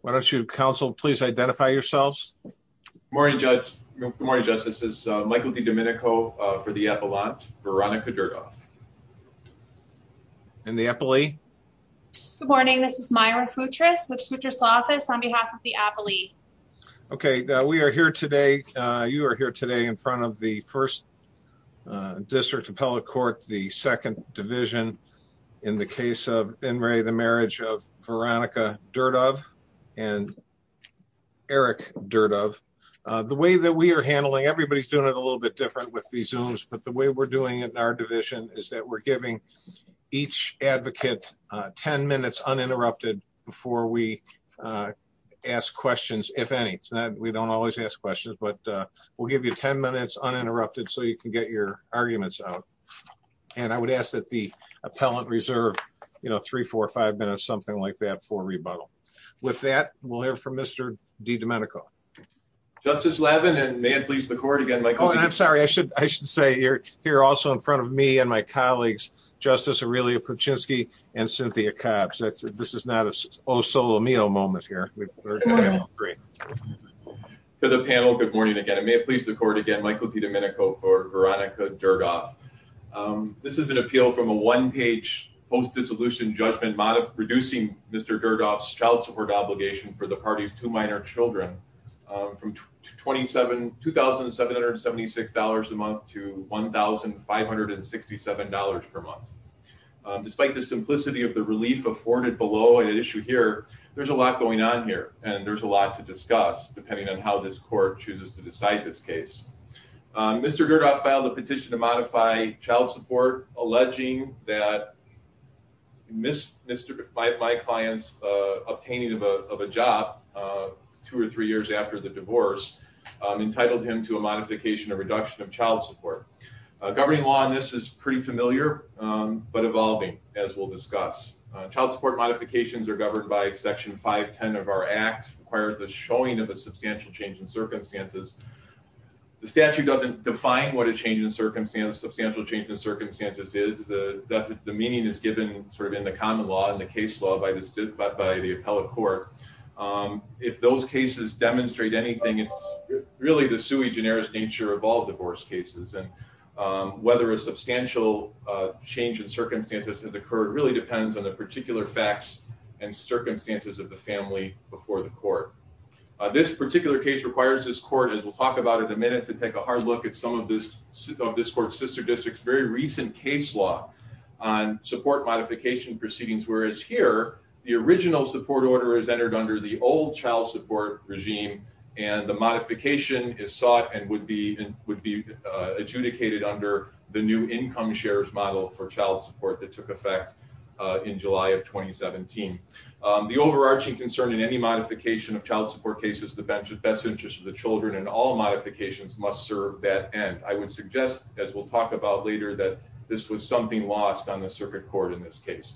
Why don't you, counsel, please identify yourselves. Morning, Judge. Morning, Justice. This is Michael DiDomenico for the Appellant, Veronica Durdove. And the Appellee? Good morning, this is Mayra Futris with Futris Law Office on behalf of the Appellee. Okay, we are here today, you are here today in front of the First District Appellate Court, the Second Division in the case of In re the Marriage of Veronica Durdove and Eric Durdove. The way that we are handling, everybody's doing it a little bit different with the Zooms, but the way we're doing it in our division is that we're giving each advocate 10 minutes uninterrupted before we ask questions, if any. It's not, we don't always ask questions, but we'll give you 10 minutes uninterrupted so you can get your arguments out. And I would ask that the Appellant reserve, you know, three, four or five minutes, something like that for rebuttal. With that, we'll hear from Mr. DiDomenico. Justice Levin, and may it please the Court again, Michael DiDomenico. Oh, and I'm sorry, I should say you're here also in front of me and my colleagues, Justice Aurelia Puczynski and Cynthia Cobbs. This is not a oh-so-lo-me-oh moment here. Good morning. To the panel, good morning again. And may it please the Court again, Michael DiDomenico for Veronica Dergoff. This is an appeal from a one-page post-dissolution judgment mod of reducing Mr. Dergoff's child support obligation for the party's two minor children from $2,776 a month to $1,567 per month. Despite the simplicity of the relief afforded below an issue here, there's a lot going on here, and there's a lot to discuss, and there's a lot to discuss. Mr. Dergoff filed a petition to modify child support, alleging that my client's obtaining of a job two or three years after the divorce entitled him to a modification or reduction of child support. Governing law on this is pretty familiar, but evolving, as we'll discuss. Child support modifications are governed by section 510 of our act, requires the showing of a substantial change in circumstances. The statute doesn't define what a change in circumstances, substantial change in circumstances is. The meaning is given sort of in the common law and the case law by the appellate court. If those cases demonstrate anything, it's really the sui generis nature of all divorce cases, and whether a substantial change in circumstances has occurred really depends on the particular facts and circumstances of the family before the court. This particular case requires this court, as we'll talk about in a minute, to take a hard look at some of this court's sister districts very recent case law on support modification proceedings. Whereas here, the original support order is entered under the old child support regime, and the modification is sought and would be adjudicated under the new income shares model for child support that took effect in July of 2017. The overarching concern in any modification of child support cases, the best interest of the children and all modifications must serve that end. I would suggest, as we'll talk about later, that this was something lost on the circuit court in this case.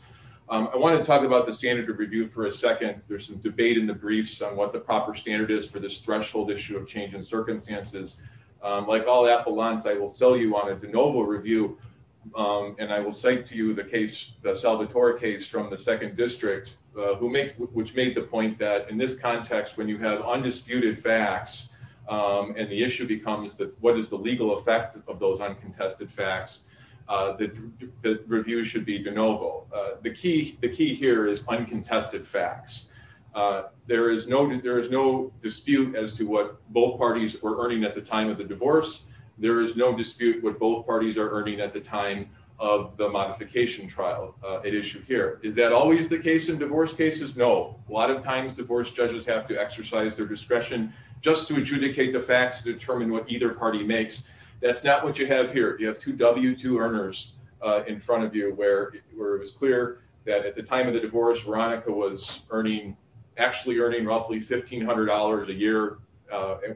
I wanna talk about the standard of review for a second. There's some debate in the briefs on what the proper standard is for this threshold issue of change in circumstances. Like all appellants, I will sell you on a de novo review, and I will cite to you the case, the Salvatore case from the second district, which made the point that in this context, when you have undisputed facts, and the issue becomes what is the legal effect of those uncontested facts, the review should be de novo. The key here is uncontested facts. There is no dispute as to what both parties were earning at the time of the divorce. There is no dispute what both parties are earning at the time of the modification trial at issue here. Is that always the case in divorce cases? No. A lot of times, divorce judges have to exercise their discretion just to adjudicate the facts, determine what either party makes. That's not what you have here. You have two W-2 earners in front of you, where it was clear that at the time of the divorce, Veronica was actually earning roughly $1,500 a year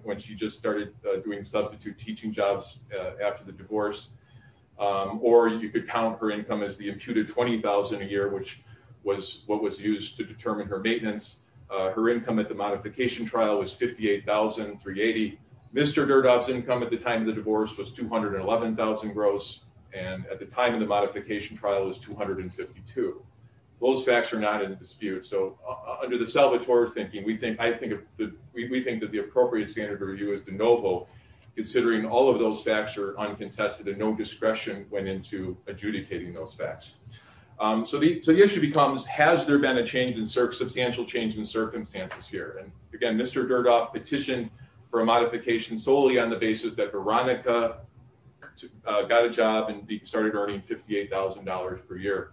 when she just started doing substitute teaching jobs after the divorce, or you could count her income as the imputed 20,000 a year, which was what was used to determine her maintenance. Her income at the modification trial was 58,380. Mr. Durdog's income at the time of the divorce was 211,000 gross, and at the time of the modification trial was 252. Those facts are not in dispute. So under the Salvatore thinking, we think that the appropriate standard review is de novo, considering all of those facts are uncontested and no discretion went into adjudicating those facts. So the issue becomes, has there been a substantial change in circumstances here? And again, Mr. Durdog petitioned for a modification solely on the basis that Veronica got a job and started earning $58,000 per year.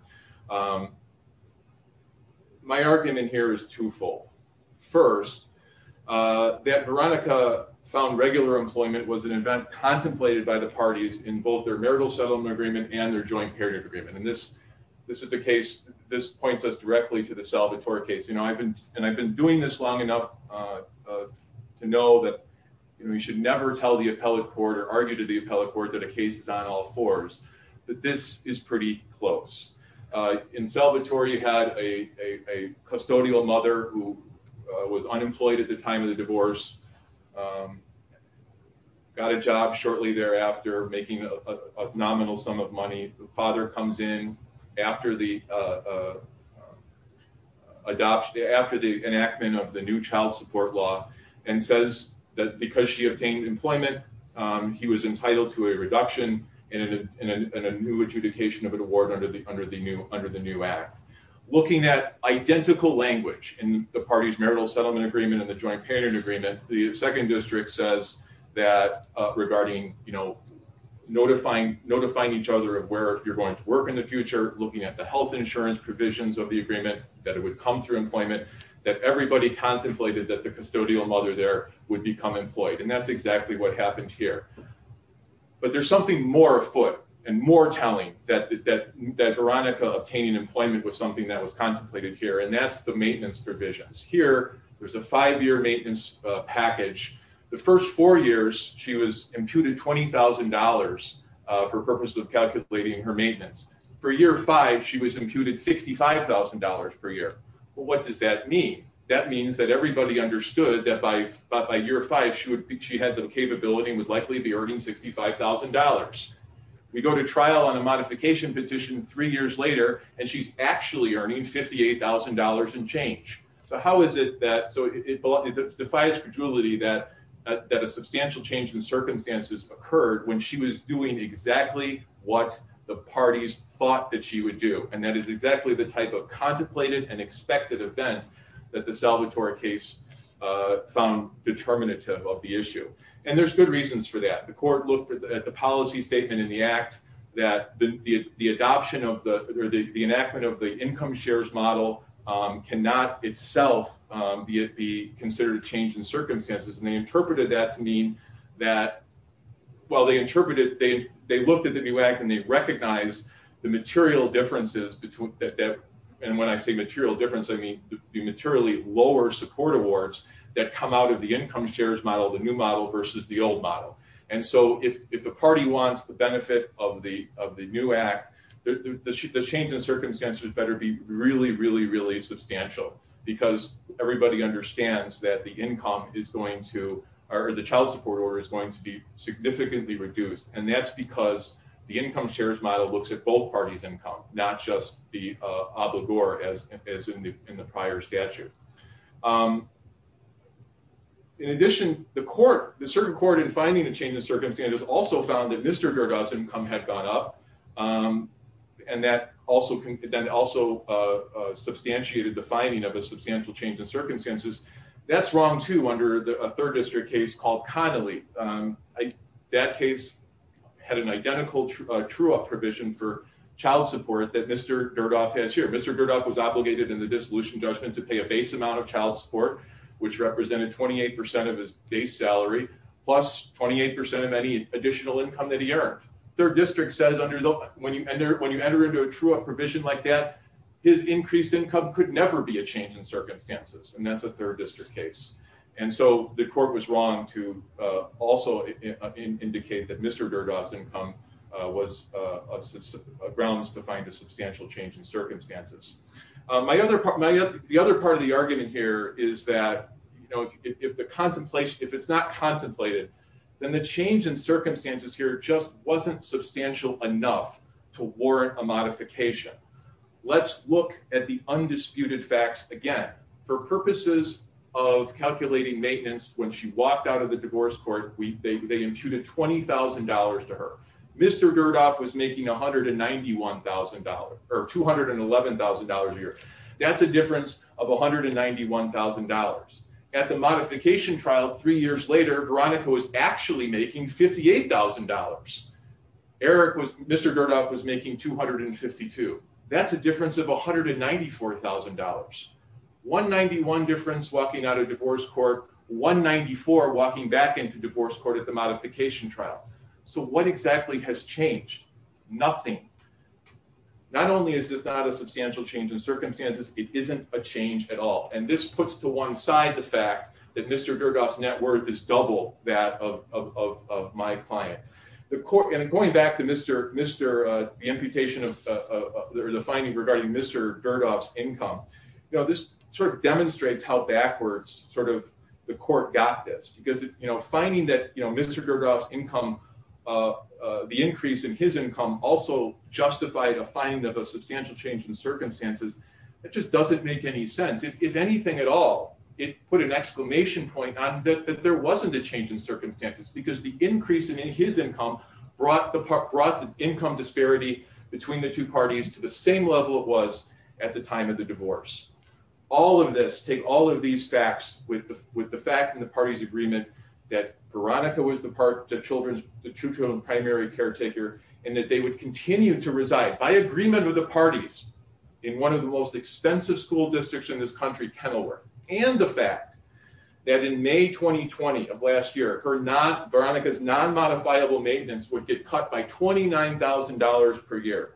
My argument here is twofold. First, that Veronica found regular employment was an event contemplated by the parties in both their marital settlement agreement and their joint period agreement. This is a case, this points us directly to the Salvatore case. And I've been doing this long enough to know that we should never tell the appellate court or argue to the appellate court that a case is on all fours, that this is pretty close. In Salvatore, you had a custodial mother who was unemployed at the time of the divorce, got a job shortly thereafter, making a nominal sum of money. The father comes in after the adoption, after the enactment of the new child support law and says that because she obtained employment, he was entitled to a reduction and a new adjudication of an award under the new act. Looking at identical language in the parties marital settlement agreement and the joint period agreement, the second district says that regarding, notifying each other of where you're going to work in the future, looking at the health insurance provisions of the agreement that it would come through employment, that everybody contemplated that the custodial mother there would become employed. And that's exactly what happened here. But there's something more afoot and more telling that Veronica obtaining employment was something that was contemplated here. And that's the maintenance provisions. Here, there's a five-year maintenance package. The first four years, she was imputed $20,000 for purposes of calculating her maintenance. For year five, she was imputed $65,000 per year. Well, what does that mean? That means that everybody understood that by year five, she had the capability and would likely be earning $65,000. We go to trial on a modification petition three years later and she's actually earning $58,000 and change. So how is it that, so it defies credulity that a substantial change in circumstances occurred when she was doing exactly what the parties thought that she would do. And that is exactly the type of contemplated and expected event that the Salvatore case found determinative of the issue. And there's good reasons for that. The court looked at the policy statement in the act that the adoption of the, or the enactment of the income shares model cannot itself be considered a change in circumstances. And they interpreted that to mean that, well, they interpreted, they looked at the new act and they recognized the material differences between, and when I say material difference, I mean the materially lower support awards that come out of the income shares model, the new model versus the old model. And so if the party wants the benefit of the new act, the change in circumstances better be really, really substantial because everybody understands that the income is going to, or the child support order is going to be significantly reduced. And that's because the income shares model looks at both parties' income, not just the obligor as in the prior statute. In addition, the court, the certain court in finding a change in circumstances also found that Mr. Garga's income had gone up. And that also substantiated the finding of a substantial change in circumstances. That's wrong too under a third district case called Connolly. That case had an identical true up provision for child support that Mr. Durdolph has here. Mr. Durdolph was obligated in the dissolution judgment to pay a base amount of child support, which represented 28% of his base salary, plus 28% of any additional income that he earned. Third district says under the, when you enter into a true up provision like that, his increased income could never be a change in circumstances, and that's a third district case. And so the court was wrong to also indicate that Mr. Durdolph's income was a grounds to find a substantial change in circumstances. My other, the other part of the argument here is that, you know, if the contemplation, if it's not contemplated, then the change in circumstances here just wasn't substantial enough to warrant a modification. Let's look at the undisputed facts again. For purposes of calculating maintenance, when she walked out of the divorce court, they imputed $20,000 to her. Mr. Durdolph was making $191,000 or $211,000 a year. That's a difference of $191,000. At the modification trial three years later, Veronica was actually making $58,000. Eric was, Mr. Durdolph was making 252. That's a difference of $194,000. 191 difference walking out of divorce court, 194 walking back into divorce court at the modification trial. So what exactly has changed? Nothing. Not only is this not a substantial change in circumstances, it isn't a change at all. And this puts to one side the fact that Mr. Durdolph's net worth is double that of my client. The court, and going back to the imputation of the finding regarding Mr. Durdolph's income, this sort of demonstrates how backwards sort of the court got this. Because finding that Mr. Durdolph's income, the increase in his income also justified a finding of a substantial change in circumstances. It just doesn't make any sense. If anything at all, it put an exclamation point on that there wasn't a change in circumstances because the increase in his income brought the income disparity between the two parties to the same level it was at the time of the divorce. All of this, take all of these facts with the fact and the party's agreement that Veronica was the two children's primary caretaker and that they would continue to reside by agreement with the parties in one of the most expensive school districts in this country, Kenilworth. And the fact that in May, 2020 of last year, Veronica's non-modifiable maintenance would get cut by $29,000 per year.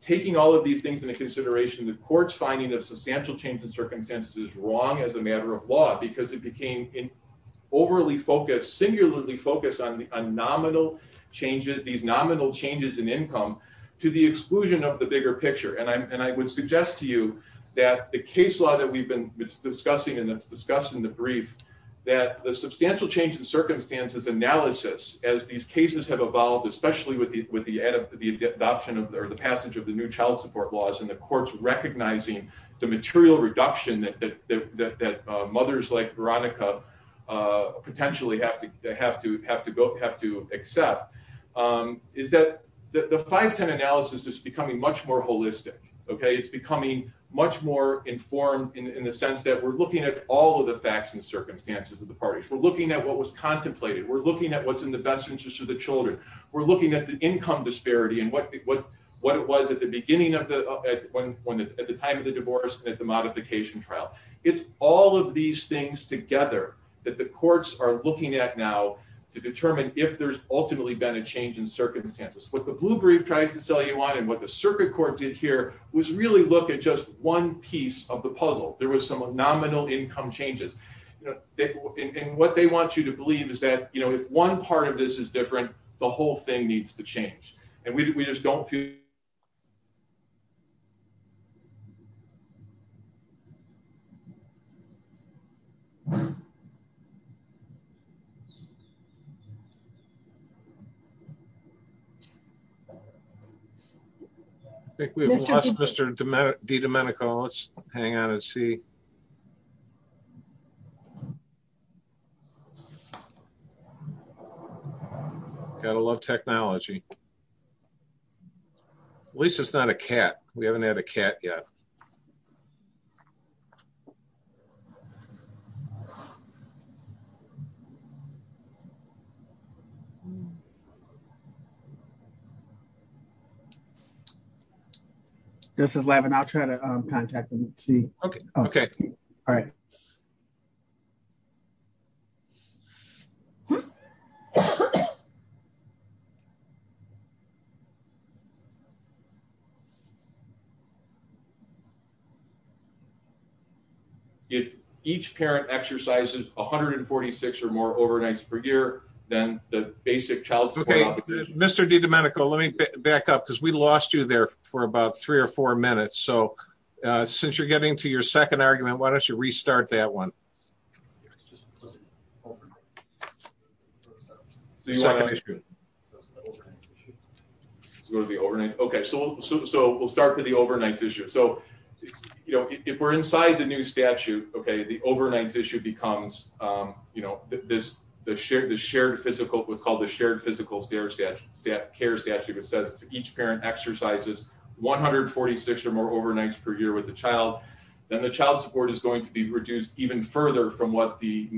Taking all of these things into consideration, the court's finding of substantial change in circumstances is wrong as a matter of law because it became overly focused, singularly focused on these nominal changes in income to the exclusion of the bigger picture. And I would suggest to you that the case law that we've been discussing and it's discussed in the brief that the substantial change in circumstances analysis as these cases have evolved, especially with the adoption or the passage of the new child support laws and the courts recognizing the material reduction that mothers like Veronica potentially have to accept is that the 510 analysis is becoming much more holistic. It's becoming much more informed in the sense that we're looking at all of the facts and circumstances of the parties. We're looking at what was contemplated. We're looking at what's in the best interest of the children. We're looking at the income disparity and what it was at the time of the divorce and at the modification trial. It's all of these things together that the courts are looking at now to determine if there's ultimately been a change in circumstances. What the blue brief tries to sell you on and what the circuit court did here was really look at just one piece of the puzzle. There was some nominal income changes. And what they want you to believe is that, if one part of this is different, the whole thing needs to change. And we just don't feel. I think we've lost Mr. DiDomenico. Let's hang on and see. Gotta love technology. At least it's not a cat. We haven't had a cat yet. Okay. This is Levin. I'll try to contact him and see. Okay. All right. Okay. If each parent exercises 146 or more overnights per year, then the basic child support- Okay, Mr. DiDomenico, let me back up because we lost you there for about three or four minutes. So since you're getting to your second argument, why don't you restart that one? The second issue. So it's the overnights issue. Go to the overnights. Okay, so we'll start with the overnights issue. So if we're inside the new statute, okay, the overnights issue becomes the shared physical, what's called the shared physical care statute, which says if each parent exercises 146 or more overnights per year with the child, then the child support is going to be reduced even further from what the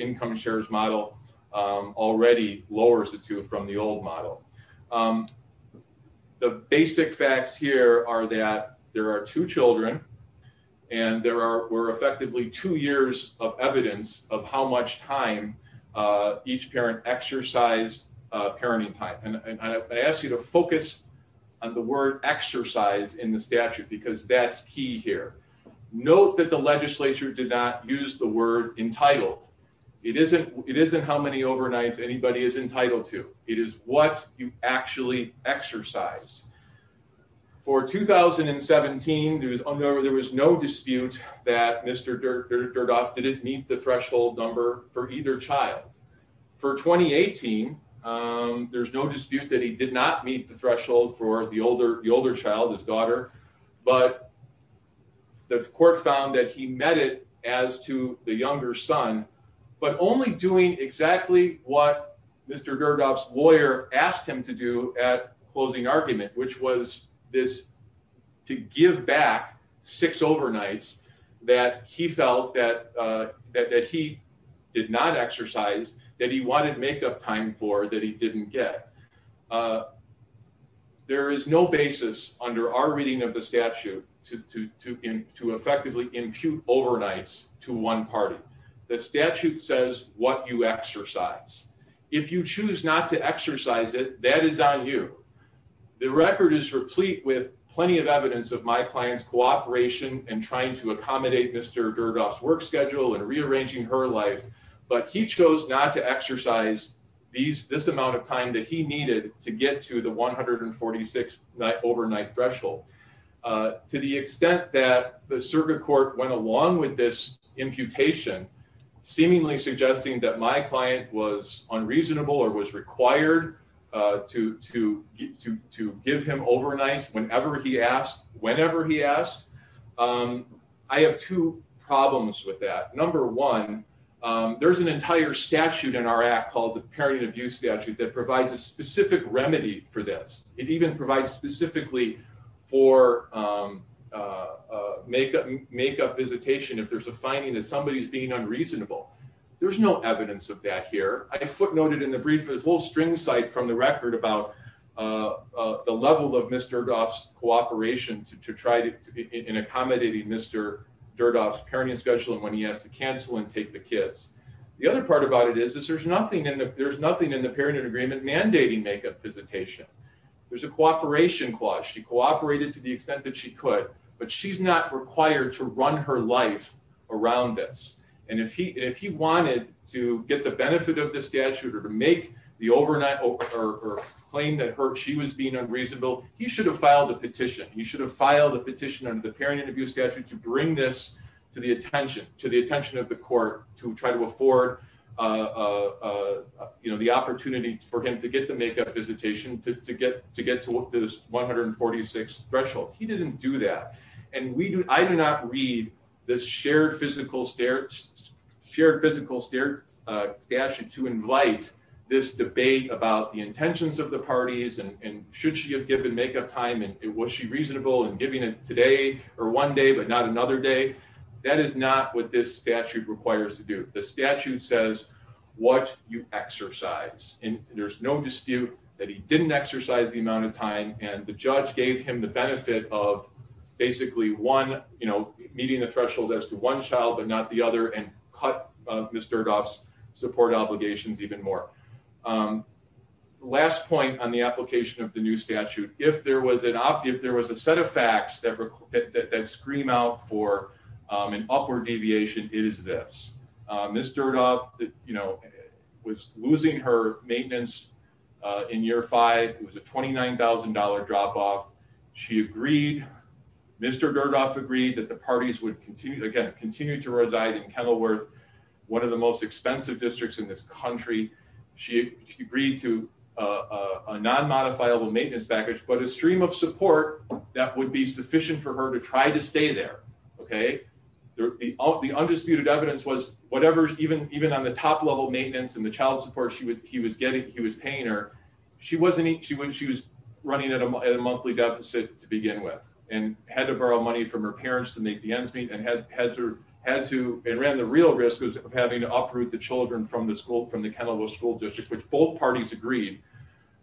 income shares model already lowers it to from the old model. The basic facts here are that there are two children and there were effectively two years of evidence of how much time each parent exercised parenting time. And I ask you to focus on the word exercise in the statute because that's key here. Note that the legislature did not use the word entitled. It isn't how many overnights anybody is entitled to. It is what you actually exercise. For 2017, there was no dispute that Mr. Durdock didn't meet the threshold number for either child. For 2018, there's no dispute that he did not meet the threshold for the older child, his daughter, but the court found that he met it as to the younger son, but only doing exactly what Mr. Durdock's lawyer asked him to do at closing argument, which was this to give back six overnights that he felt that he did not exercise, that he wanted to make up time for that he didn't get. There is no basis under our reading of the statute to effectively impute overnights to one party. The statute says what you exercise. If you choose not to exercise it, that is on you. The record is replete with plenty of evidence of my client's cooperation and trying to accommodate Mr. Durdock's work schedule and rearranging her life, but he chose not to exercise this amount of time that he needed to get to the 146 overnight threshold. To the extent that the circuit court went along with this imputation, seemingly suggesting that my client was unreasonable or was required to give him overnights whenever he asked, whenever he asked, I have two problems with that. Number one, there's an entire statute in our act called the Parent Abuse Statute that provides a specific remedy for this. It even provides specifically for makeup visitation if there's a finding that somebody is being unreasonable. There's no evidence of that here. I footnoted in the brief, there's a little string site from the record about the level of Mr. Durdock's cooperation to try and accommodating Mr. Durdock's parenting schedule and when he has to cancel and take the kids. The other part about it is there's nothing in the parent agreement mandating makeup visitation. There's a cooperation clause. She cooperated to the extent that she could, but she's not required to run her life around this. And if he wanted to get the benefit of the statute or to make the overnight or claim that she was being unreasonable, he should have filed a petition. He should have filed a petition under the Parent Abuse Statute to bring this to the attention of the court to try to afford the opportunity for him to get the makeup visitation to get to this 146 threshold. He didn't do that. And I do not read this shared physical statute to invite this debate about the intentions of the parties and should she have given makeup time and was she reasonable in giving it today or one day, but not another day. That is not what this statute requires to do. The statute says what you exercise, and there's no dispute that he didn't exercise the amount of time and the judge gave him the benefit of basically meeting the threshold as to one child, but not the other, and cut Ms. Dirdof's support obligations even more. Last point on the application of the new statute. If there was a set of facts that scream out for an upward deviation, it is this. Ms. Dirdof was losing her maintenance in year five. It was a $29,000 drop-off. She agreed, Mr. Dirdof agreed that the parties would continue, again, continue to reside in Kenilworth, one of the most expensive districts in this country. She agreed to a non-modifiable maintenance package, but a stream of support that would be sufficient for her to try to stay there, okay? The undisputed evidence was whatever, even on the top level maintenance and the child support she was getting, he was paying her, she was running at a monthly deficit to begin with, and had to borrow money from her parents to make the ends meet, and ran the real risk of having to uproot the children from the school, from the Kenilworth School District, which both parties agreed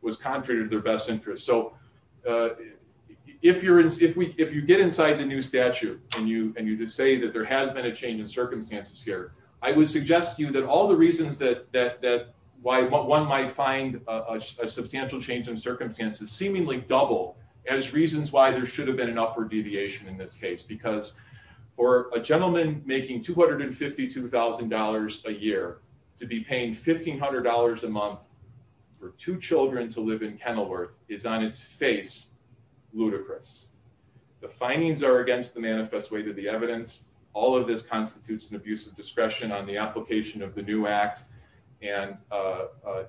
was contrary to their best interest. So, if you get inside the new statute and you just say that there has been a change in circumstances here, I would suggest to you that all the reasons that why one might find a substantial change in circumstances seemingly double as reasons why there should have been an upward deviation in this case, because for a gentleman making $252,000 a year to be paying $1,500 a month for two children to live in Kenilworth is on its face, ludicrous. The findings are against the manifest way to the evidence. All of this constitutes an abuse of discretion on the application of the new act, and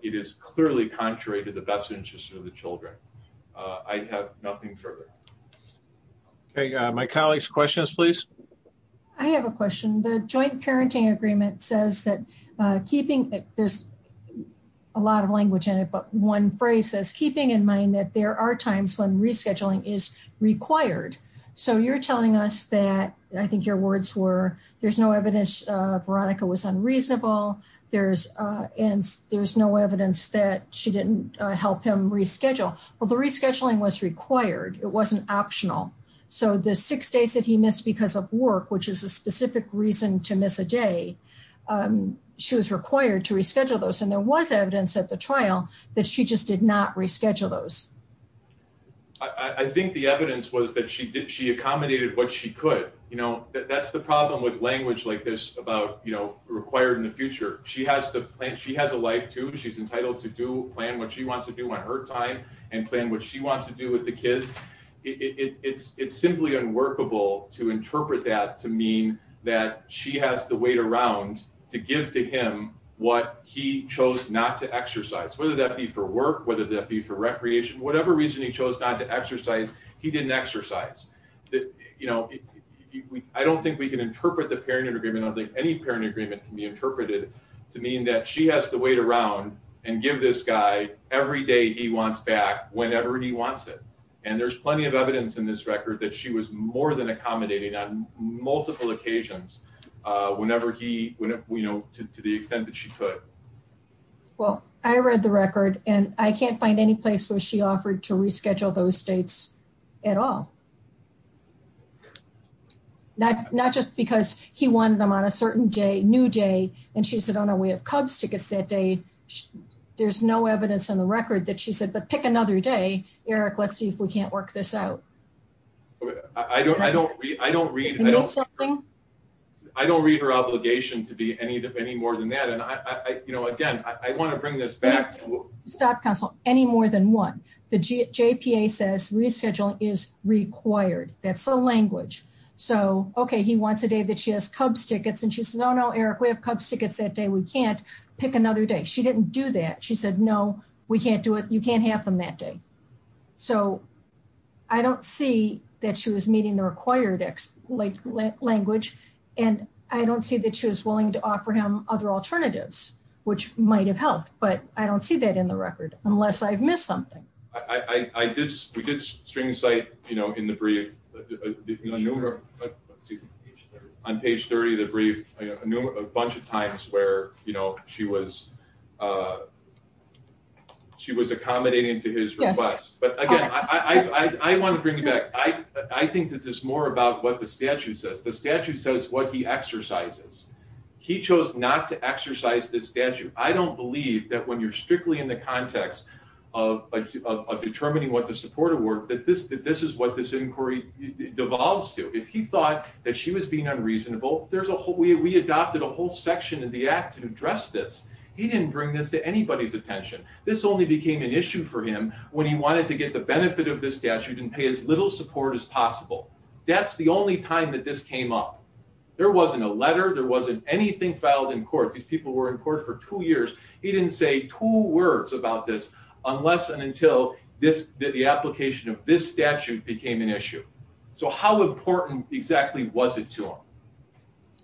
it is clearly contrary to the best interest of the children. I have nothing further. Okay, my colleagues, questions, please. I have a question. The joint parenting agreement says that keeping, there's a lot of language in it, but one phrase says keeping in mind that there are times when rescheduling is required. So, you're telling us that, I think your words were, there's no evidence Veronica was unreasonable, and there's no evidence that she didn't help him reschedule. Well, the rescheduling was required. It wasn't optional. So, the six days that he missed because of work, which is a specific reason to miss a day, she was required to reschedule those. And there was evidence at the trial that she just did not reschedule those. I think the evidence was that she accommodated what she could. That's the problem with language like this about required in the future. She has a life too. She's entitled to plan what she wants to do on her time and plan what she wants to do with the kids. It's simply unworkable to interpret that to mean that she has to wait around to give to him what he chose not to exercise. Whether that be for work, whether that be for recreation, whatever reason he chose not to exercise, he didn't exercise. I don't think we can interpret the parent agreement, I don't think any parent agreement can be interpreted to mean that she has to wait around and give this guy every day he wants back whenever he wants it. And there's plenty of evidence in this record that she was more than accommodating on multiple occasions to the extent that she could. Well, I read the record and I can't find any place where she offered to reschedule those states at all. Not just because he wanted them on a certain day, new day, and she said, oh, no, we have Cubs tickets that day. There's no evidence in the record that she said, but pick another day, Eric, let's see if we can't work this out. I don't read her obligation to be any more than that. And again, I want to bring this back to- Stop counsel, any more than one. The JPA says rescheduling is required, that's the language. So, okay, he wants a day that she has Cubs tickets and she says, oh no, Eric, we have Cubs tickets that day, we can't pick another day. She didn't do that, she said, no, we can't do it, you can't have them that day. So, I don't see that she was meeting the required language and I don't see that she was willing to offer him other alternatives, which might've helped, but I don't see that in the record unless I've missed something. I did, we did string site, you know, in the brief, on page 30 of the brief, a bunch of times where, you know, she was accommodating to his request. But again, I want to bring it back. I think this is more about what the statute says. The statute says what he exercises. He chose not to exercise this statute. I don't believe that when you're strictly in the context of determining what the support of work, that this is what this inquiry devolves to. If he thought that she was being unreasonable, there's a whole, we adopted a whole section in the act to address this. He didn't bring this to anybody's attention. This only became an issue for him when he wanted to get the benefit of this statute and pay as little support as possible. That's the only time that this came up. There wasn't a letter, there wasn't anything filed in court. These people were in court for two years. He didn't say two words about this unless and until this, the application of this statute became an issue. So how important exactly was it to him?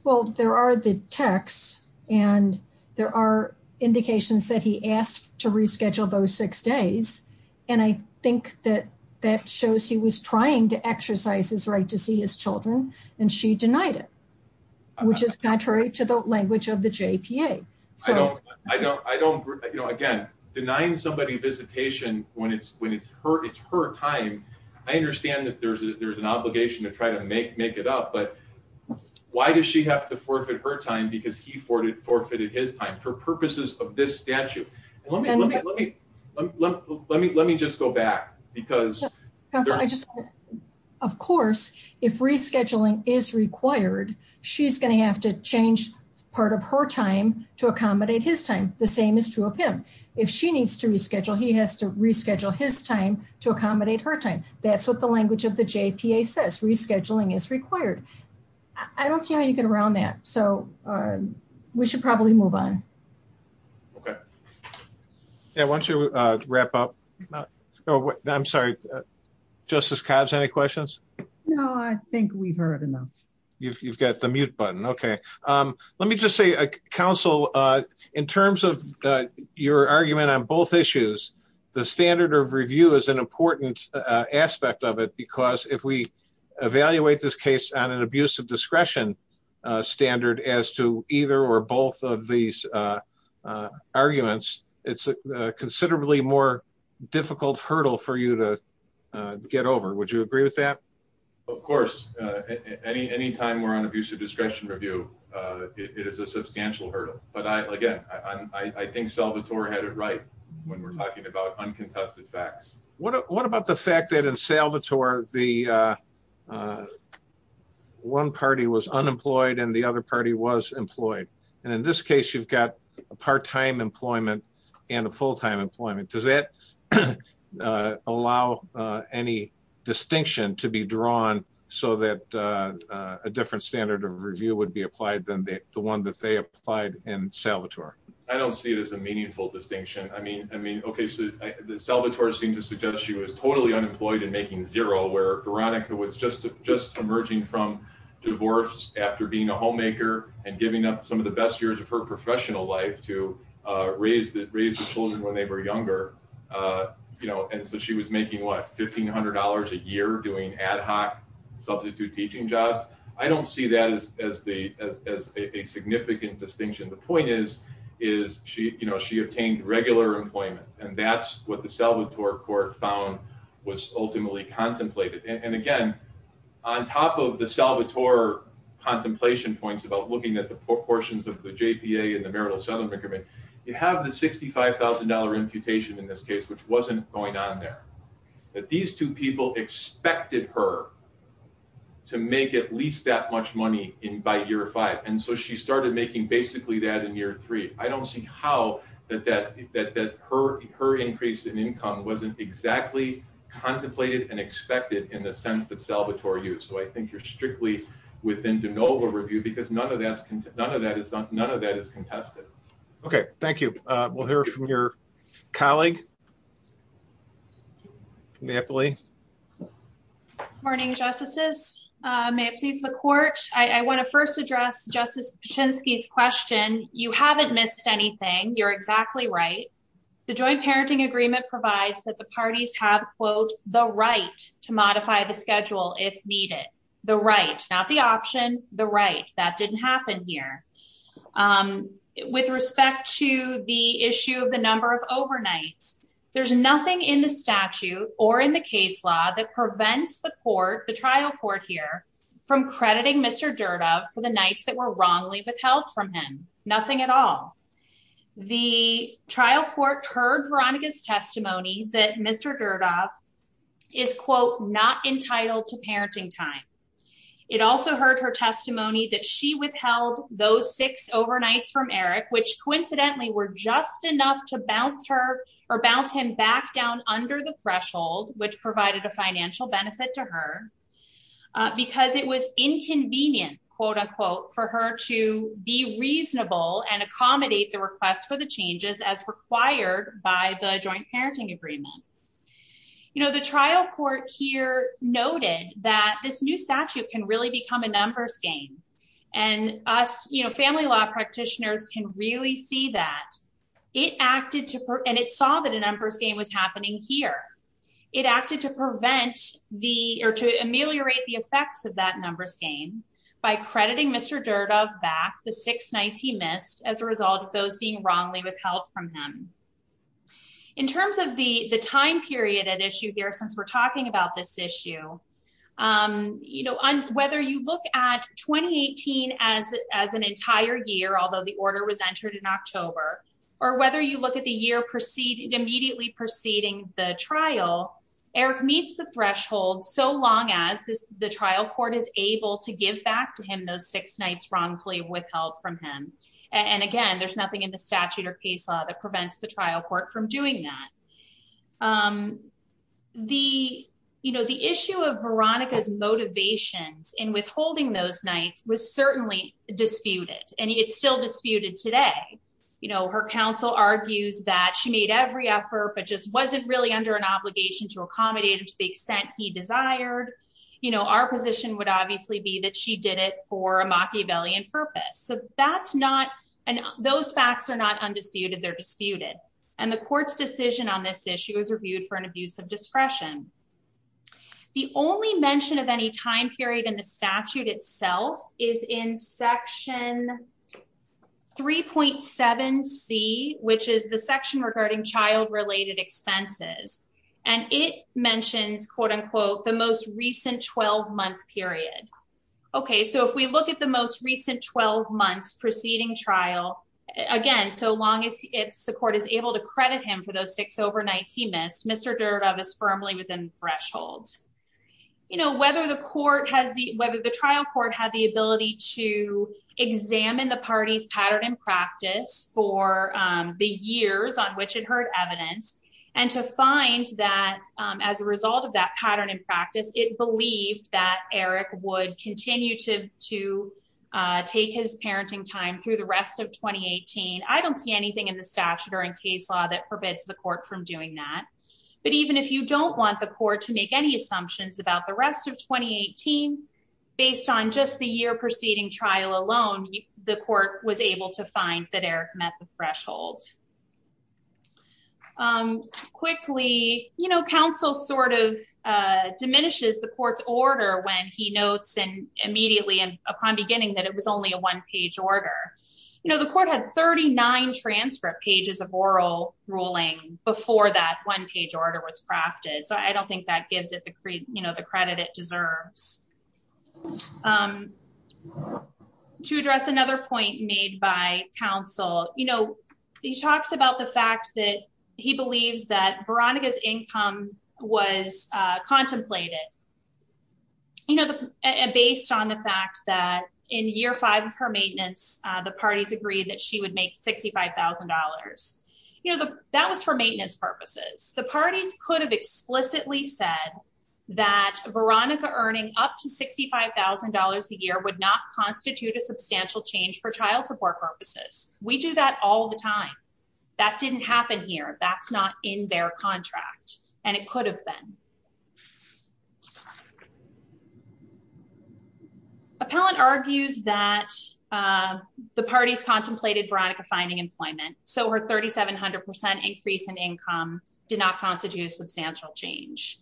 Well, there are the texts and there are indications that he asked to reschedule those six days. And I think that that shows he was trying to exercise his right to see his children and she denied it, which is contrary to the language of the JPA. Again, denying somebody visitation when it's her time, I understand that there's an obligation to try to make it up, but why does she have to forfeit her time because he forfeited his time? For purposes of this statute. And let me just go back because- Council, I just want to, of course, if rescheduling is required, she's going to have to change part of her time to accommodate his time. The same is true of him. If she needs to reschedule, he has to reschedule his time to accommodate her time. That's what the language of the JPA says. Rescheduling is required. I don't see how you get around that. So we should probably move on. Okay. Yeah, why don't you wrap up? I'm sorry, Justice Cobbs, any questions? No, I think we've heard enough. You've got the mute button, okay. Let me just say, Council, in terms of your argument on both issues, the standard of review is an important aspect of it because if we evaluate this case on an abuse of discretion standard as to either or both of these arguments, it's a considerably more difficult hurdle for you to get over. Would you agree with that? Of course, anytime we're on abuse of discretion review, it is a substantial hurdle. But again, I think Salvatore had it right when we're talking about uncontested facts. What about the fact that in Salvatore, the one party was unemployed and the other party was employed. And in this case, you've got a part-time employment and a full-time employment. Does that allow any distinction to be drawn so that a different standard of review would be applied than the one that they applied in Salvatore? I don't see it as a meaningful distinction. I mean, okay, so Salvatore seemed to suggest that she was totally unemployed and making zero where Veronica was just emerging from divorce after being a homemaker and giving up some of the best years of her professional life to raise the children when they were younger. And so she was making what, $1,500 a year doing ad hoc substitute teaching jobs. I don't see that as a significant distinction. The point is she obtained regular employment and that's what the Salvatore court found was ultimately contemplated. And again, on top of the Salvatore contemplation points about looking at the proportions of the JPA and the marital settlement agreement, you have the $65,000 imputation in this case, which wasn't going on there. That these two people expected her to make at least that much money by year five. And so she started making basically that in year three. I don't see how that her increase in income wasn't exactly contemplated and expected in the sense that Salvatore used. So I think you're strictly within de novo review because none of that is contested. Okay, thank you. We'll hear from your colleague, Nathalie. Morning, justices. May it please the court. I want to first address Justice Pichinsky's question. You haven't missed anything. You're exactly right. The joint parenting agreement provides that the parties have quote, the right to modify the schedule if needed. The right, not the option, the right. That didn't happen here. With respect to the issue of the number of overnights, there's nothing in the statute or in the case law that prevents the court, the trial court here from crediting Mr. Durda for the nights that were wrongly withheld from him. Nothing at all. The trial court heard Veronica's testimony that Mr. Durda is quote, not entitled to parenting time. It also heard her testimony that she withheld those six overnights from Eric, which coincidentally were just enough to bounce her or bounce him back down under the threshold, which provided a financial benefit to her because it was inconvenient, quote unquote, for her to be reasonable and accommodate the request for the changes as required by the joint parenting agreement. You know, the trial court here noted that this new statute can really become a numbers game. And us, you know, family law practitioners can really see that it acted to, and it saw that a numbers game was happening here. It acted to prevent the, or to ameliorate the effects of that numbers game by crediting Mr. Durda back the six nights he missed as a result of those being wrongly withheld from him. In terms of the time period at issue there, since we're talking about this issue, you know, whether you look at 2018 as an entire year, although the order was entered in October, or whether you look at the year immediately preceding the trial, Eric meets the threshold so long as the trial court is able to give back to him those six nights wrongfully withheld from him. And again, there's nothing in the statute or case law that prevents the trial court from doing that. The, you know, the issue of Veronica's motivations in withholding those nights was certainly disputed, and it's still disputed today. You know, her counsel argues that she made every effort, but just wasn't really under an obligation to accommodate him to the extent he desired. You know, our position would obviously be that she did it for a Machiavellian purpose. So that's not, and those facts are not undisputed, they're disputed. And the court's decision on this issue is reviewed for an abuse of discretion. The only mention of any time period in the statute itself is in section 3.7C, which is the section regarding child-related expenses. And it mentions, quote-unquote, the most recent 12-month period. Okay, so if we look at the most recent 12 months preceding trial, again, so long as the court is able to credit him for those six overnights he missed, Mr. Durdove is firmly within thresholds. You know, whether the trial court had the ability to examine the party's pattern and practice for the years on which it heard evidence, and to find that as a result of that pattern in practice, it believed that Eric would continue to take his parenting time through the rest of 2018. I don't see anything in the statute or in case law that forbids the court from doing that. But even if you don't want the court to make any assumptions about the rest of 2018, based on just the year preceding trial alone, the court was able to find that Eric met the threshold. Quickly, you know, counsel sort of diminishes the court's order when he notes immediately and upon beginning that it was only a one-page order. You know, the court had 39 transcript pages of oral ruling before that one-page order was crafted. So I don't think that gives it the credit it deserves. To address another point made by counsel, you know, he talks about the fact that he believes that Veronica's income was contemplated, you know, based on the fact that in year five of her maintenance, the parties agreed that she would make $65,000. You know, that was for maintenance purposes. The parties could have explicitly said that Veronica earning up to $65,000 a year would not constitute a substantial change for child support purposes. We do that all the time. That didn't happen here. That's not in their contract. And it could have been. Appellant argues that the parties contemplated Veronica finding employment. So her 3,700% increase in income did not constitute a substantial change.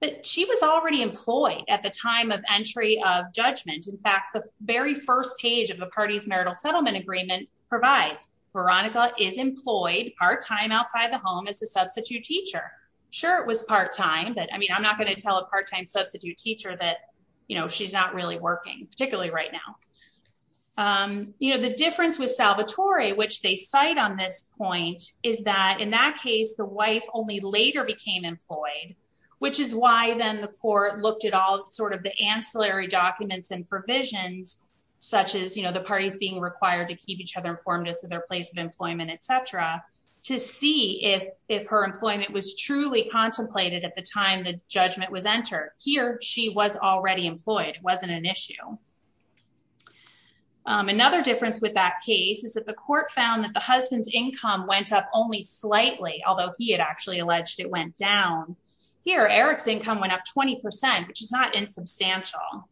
But she was already employed at the time of entry of judgment. In fact, the very first page of the party's marital settlement agreement provides Veronica is employed part-time outside the home as a substitute teacher. Sure, it was part-time, but I mean, I'm not gonna tell a part-time substitute teacher that, you know, she's not really working, particularly right now. You know, the difference with Salvatore, which they cite on this point, is that in that case, the wife only later became employed, which is why then the court looked at all sort of the ancillary documents and provisions, such as, you know, the parties being required to keep each other informed as to their place of employment, et cetera, to see if her employment was truly contemplated at the time the judgment was entered. Here, she was already employed. It wasn't an issue. Another difference with that case is that the court found that the husband's income went up only slightly, although he had actually alleged it went down. Here, Eric's income went up 20%, which is not insubstantial.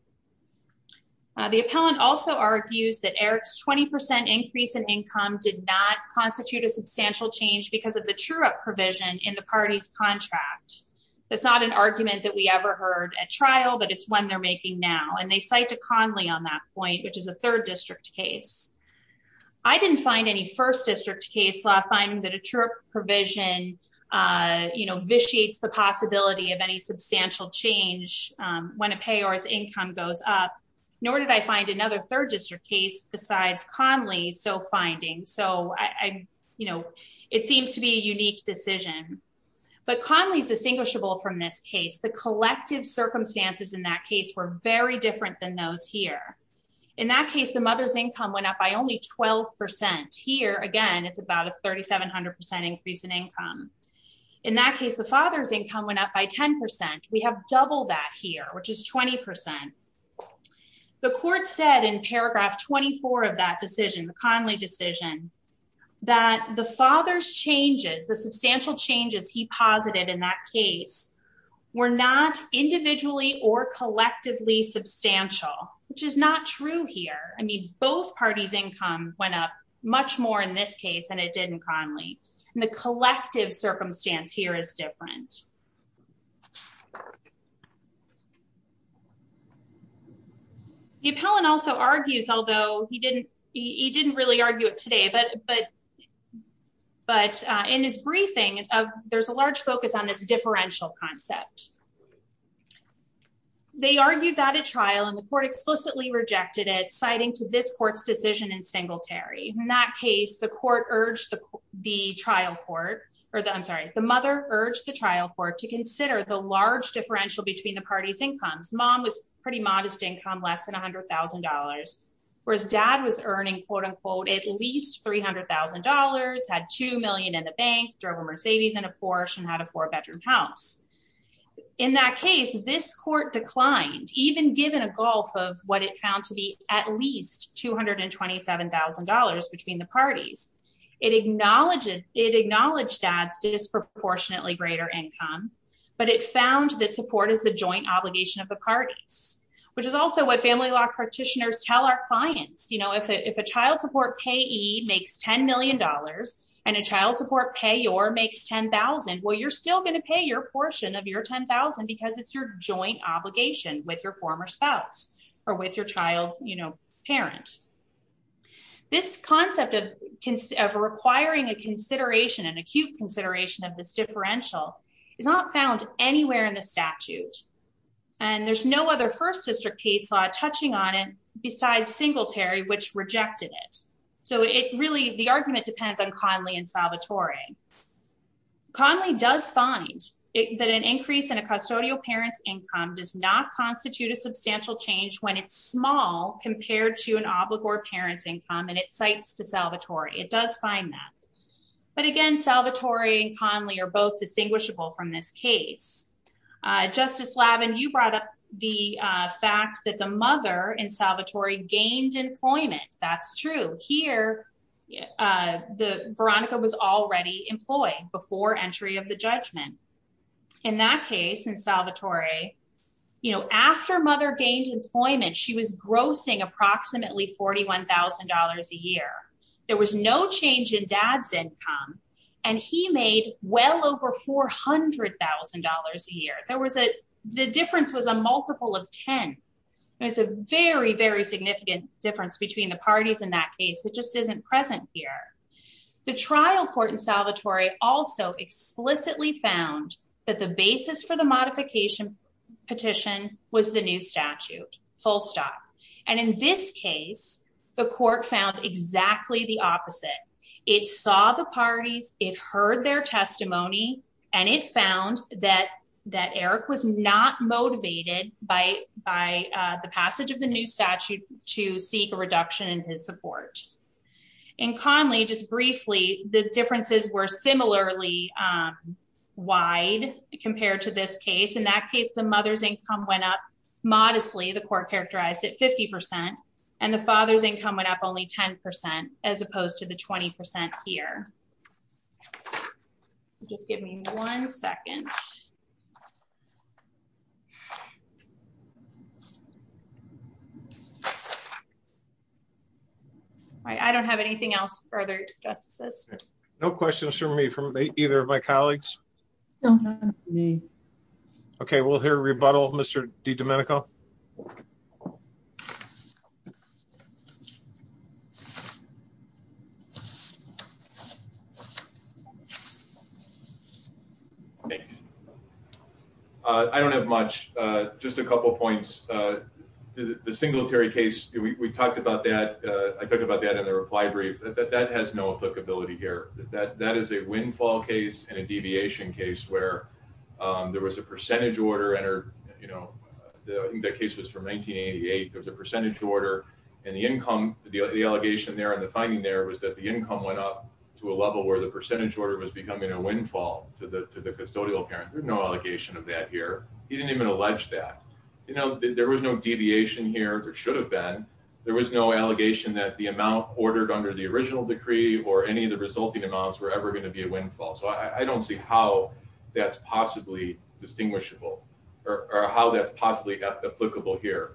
The appellant also argues that Eric's 20% increase in income did not constitute a substantial change because of the true-up provision in the party's contract. That's not an argument that we ever heard at trial, but it's one they're making now, and they cite to Conley on that point, which is a third district case. I didn't find any first district case law finding that a true-up provision, you know, vitiates the possibility of any substantial change when a payor's income goes up, nor did I find another third district case besides Conley's so finding. So, you know, it seems to be a unique decision. But Conley's distinguishable from this case. The collective circumstances in that case were very different than those here. In that case, the mother's income went up by only 12%. Here, again, it's about a 3,700% increase in income. In that case, the father's income went up by 10%. We have double that here, which is 20%. The court said in paragraph 24 of that decision, the Conley decision, that the father's changes, the substantial changes he posited in that case, were not individually or collectively substantial, which is not true here. I mean, both parties' income went up much more in this case than it did in Conley. And the collective circumstance here is different. The appellant also argues, although he didn't really argue it today, but in his briefing, there's a large focus on this differential concept. They argued that at trial, and the court explicitly rejected it, citing to this court's decision in Singletary. In that case, the court urged the trial court, or I'm sorry, the mother urged the trial court to consider the large difference in the differential between the parties' incomes. Mom was pretty modest income, less than $100,000, whereas dad was earning, quote unquote, at least $300,000, had 2 million in the bank, drove a Mercedes and a Porsche, and had a four bedroom house. In that case, this court declined, even given a gulf of what it found to be at least $227,000 between the parties. It acknowledged dad's disproportionately greater income, but it found that support is the joint obligation of the parties, which is also what family law practitioners tell our clients. You know, if a child support payee makes $10 million, and a child support payor makes 10,000, well, you're still gonna pay your portion of your 10,000 because it's your joint obligation with your former spouse or with your child's, you know, parent. This concept of requiring a consideration, an acute consideration of this differential is not found anywhere in the statute. And there's no other first district case law touching on it besides Singletary, which rejected it. So it really, the argument depends on Conley and Salvatore. Conley does find that an increase in a custodial parent's income does not constitute a substantial change when it's small compared to an obligor parent's income, and it cites to Salvatore, it does find that. But again, Salvatore and Conley are both distinguishable from this case. Justice Lavin, you brought up the fact that the mother in Salvatore gained employment. That's true. Here, Veronica was already employed before entry of the judgment. In that case, in Salvatore, you know, after mother gained employment, she was grossing approximately $41,000 a year. There was no change in dad's income, and he made well over $400,000 a year. There was a, the difference was a multiple of 10. It was a very, very significant difference between the parties in that case. It just isn't present here. The trial court in Salvatore also explicitly found that the basis for the modification petition was the new statute, full stop. And in this case, the court found exactly the opposite. It saw the parties, it heard their testimony, and it found that Eric was not motivated by the passage of the new statute to seek a reduction in his support. In Conley, just briefly, the differences were similarly wide compared to this case. In that case, the mother's income went up modestly. The court characterized it 50%. And the father's income went up only 10%, as opposed to the 20% here. Just give me one second. All right, I don't have anything else further, Justice. No questions for me from either of my colleagues. No comments from me. Okay, we'll hear a rebuttal, Mr. DiDomenico. Thanks. I don't have much, just a couple of points. The singulatary case, we talked about that. I talked about that in the reply brief. That has no applicability here. That is a windfall case and a deviation case where there was a percentage order, and I think that case was from 1988. There was a percentage order, and the allegation there and the finding there was that the income went up to a level where the percentage order was becoming a windfall to the custodial parent. There's no allegation of that here. He didn't even allege that. There was no deviation here. There should have been. There was no allegation that the amount ordered under the original decree or any of the resulting amounts were ever going to be a windfall. So I don't see how that's possibly distinguishable or how that's possibly applicable here.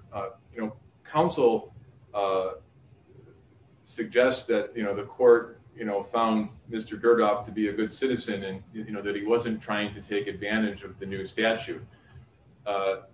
You know, counsel suggests that, you know, the court, you know, found Mr. Gerdof to be a good citizen and, you know, that he wasn't trying to take advantage of the new statute.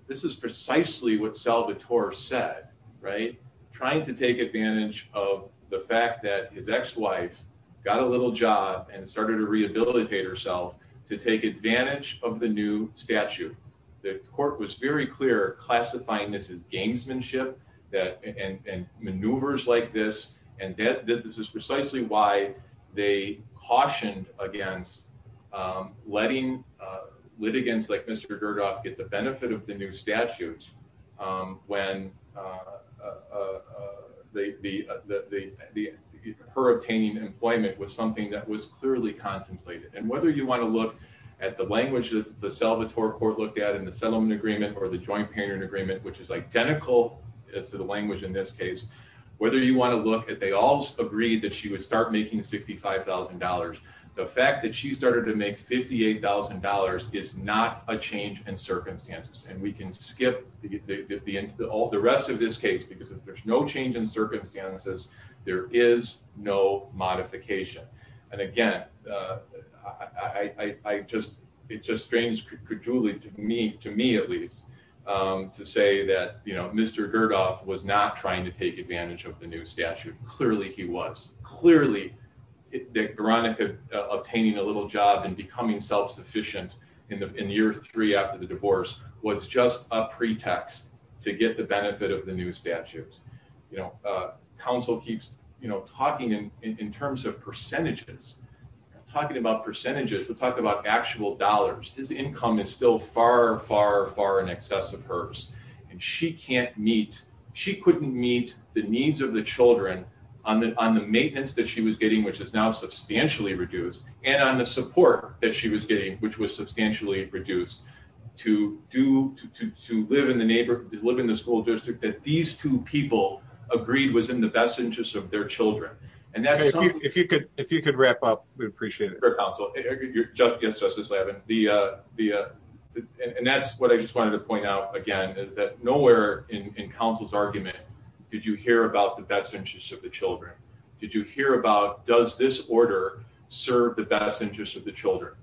This is precisely what Salvatore said, right? Trying to take advantage of the fact that his ex-wife got a little job and started to rehabilitate herself to take advantage of the new statute. The court was very clear classifying this as gamesmanship and maneuvers like this. And that this is precisely why they cautioned against letting litigants like Mr. Gerdof get the benefit of the new statute when her obtaining employment was something that was clearly contemplated. And whether you want to look at the language that the Salvatore court looked at in the settlement agreement or the joint parent agreement, which is identical to the language in this case, whether you want to look at, they all agreed that she would start making $65,000. The fact that she started to make $58,000 is not a change in circumstances. And we can skip all the rest of this case because if there's no change in circumstances, there is no modification. And again, it just strains credulity to me, at least, to say that Mr. Gerdof was not trying to take advantage of the new statute. Clearly he was. Clearly Veronica obtaining a little job and becoming self-sufficient in year three after the divorce was just a pretext to get the benefit of the new statutes. You know, counsel keeps talking in terms of percentages, talking about percentages. We'll talk about actual dollars. His income is still far, far, far in excess of hers. And she can't meet, she couldn't meet the needs of the children on the maintenance that she was getting, which is now substantially reduced and on the support that she was getting, which was substantially reduced to live in the school district that these two people agreed was in the best interest of their children. And that's- If you could wrap up, we'd appreciate it. Fair counsel. Yes, Justice Levin. And that's what I just wanted to point out again is that nowhere in counsel's argument did you hear about the best interest of the children. Did you hear about, does this order serve the best interest of the children?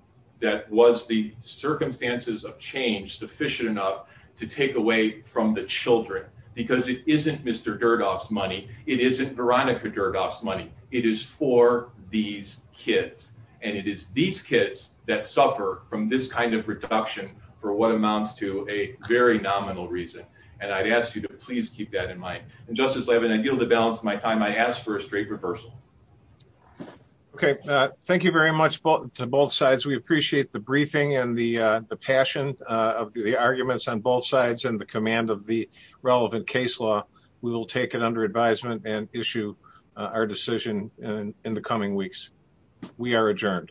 That was the circumstances of change sufficient enough to take away from the children because it isn't Mr. Durdoff's money. It isn't Veronica Durdoff's money. It is for these kids. And it is these kids that suffer from this kind of reduction for what amounts to a very nominal reason. And I'd ask you to please keep that in mind. And Justice Levin, I yield the balance of my time. I ask for a straight reversal. Okay, thank you very much to both sides. We appreciate the briefing and the passion of the arguments on both sides and the command of the relevant case law. We will take it under advisement and issue our decision in the coming weeks. We are adjourned.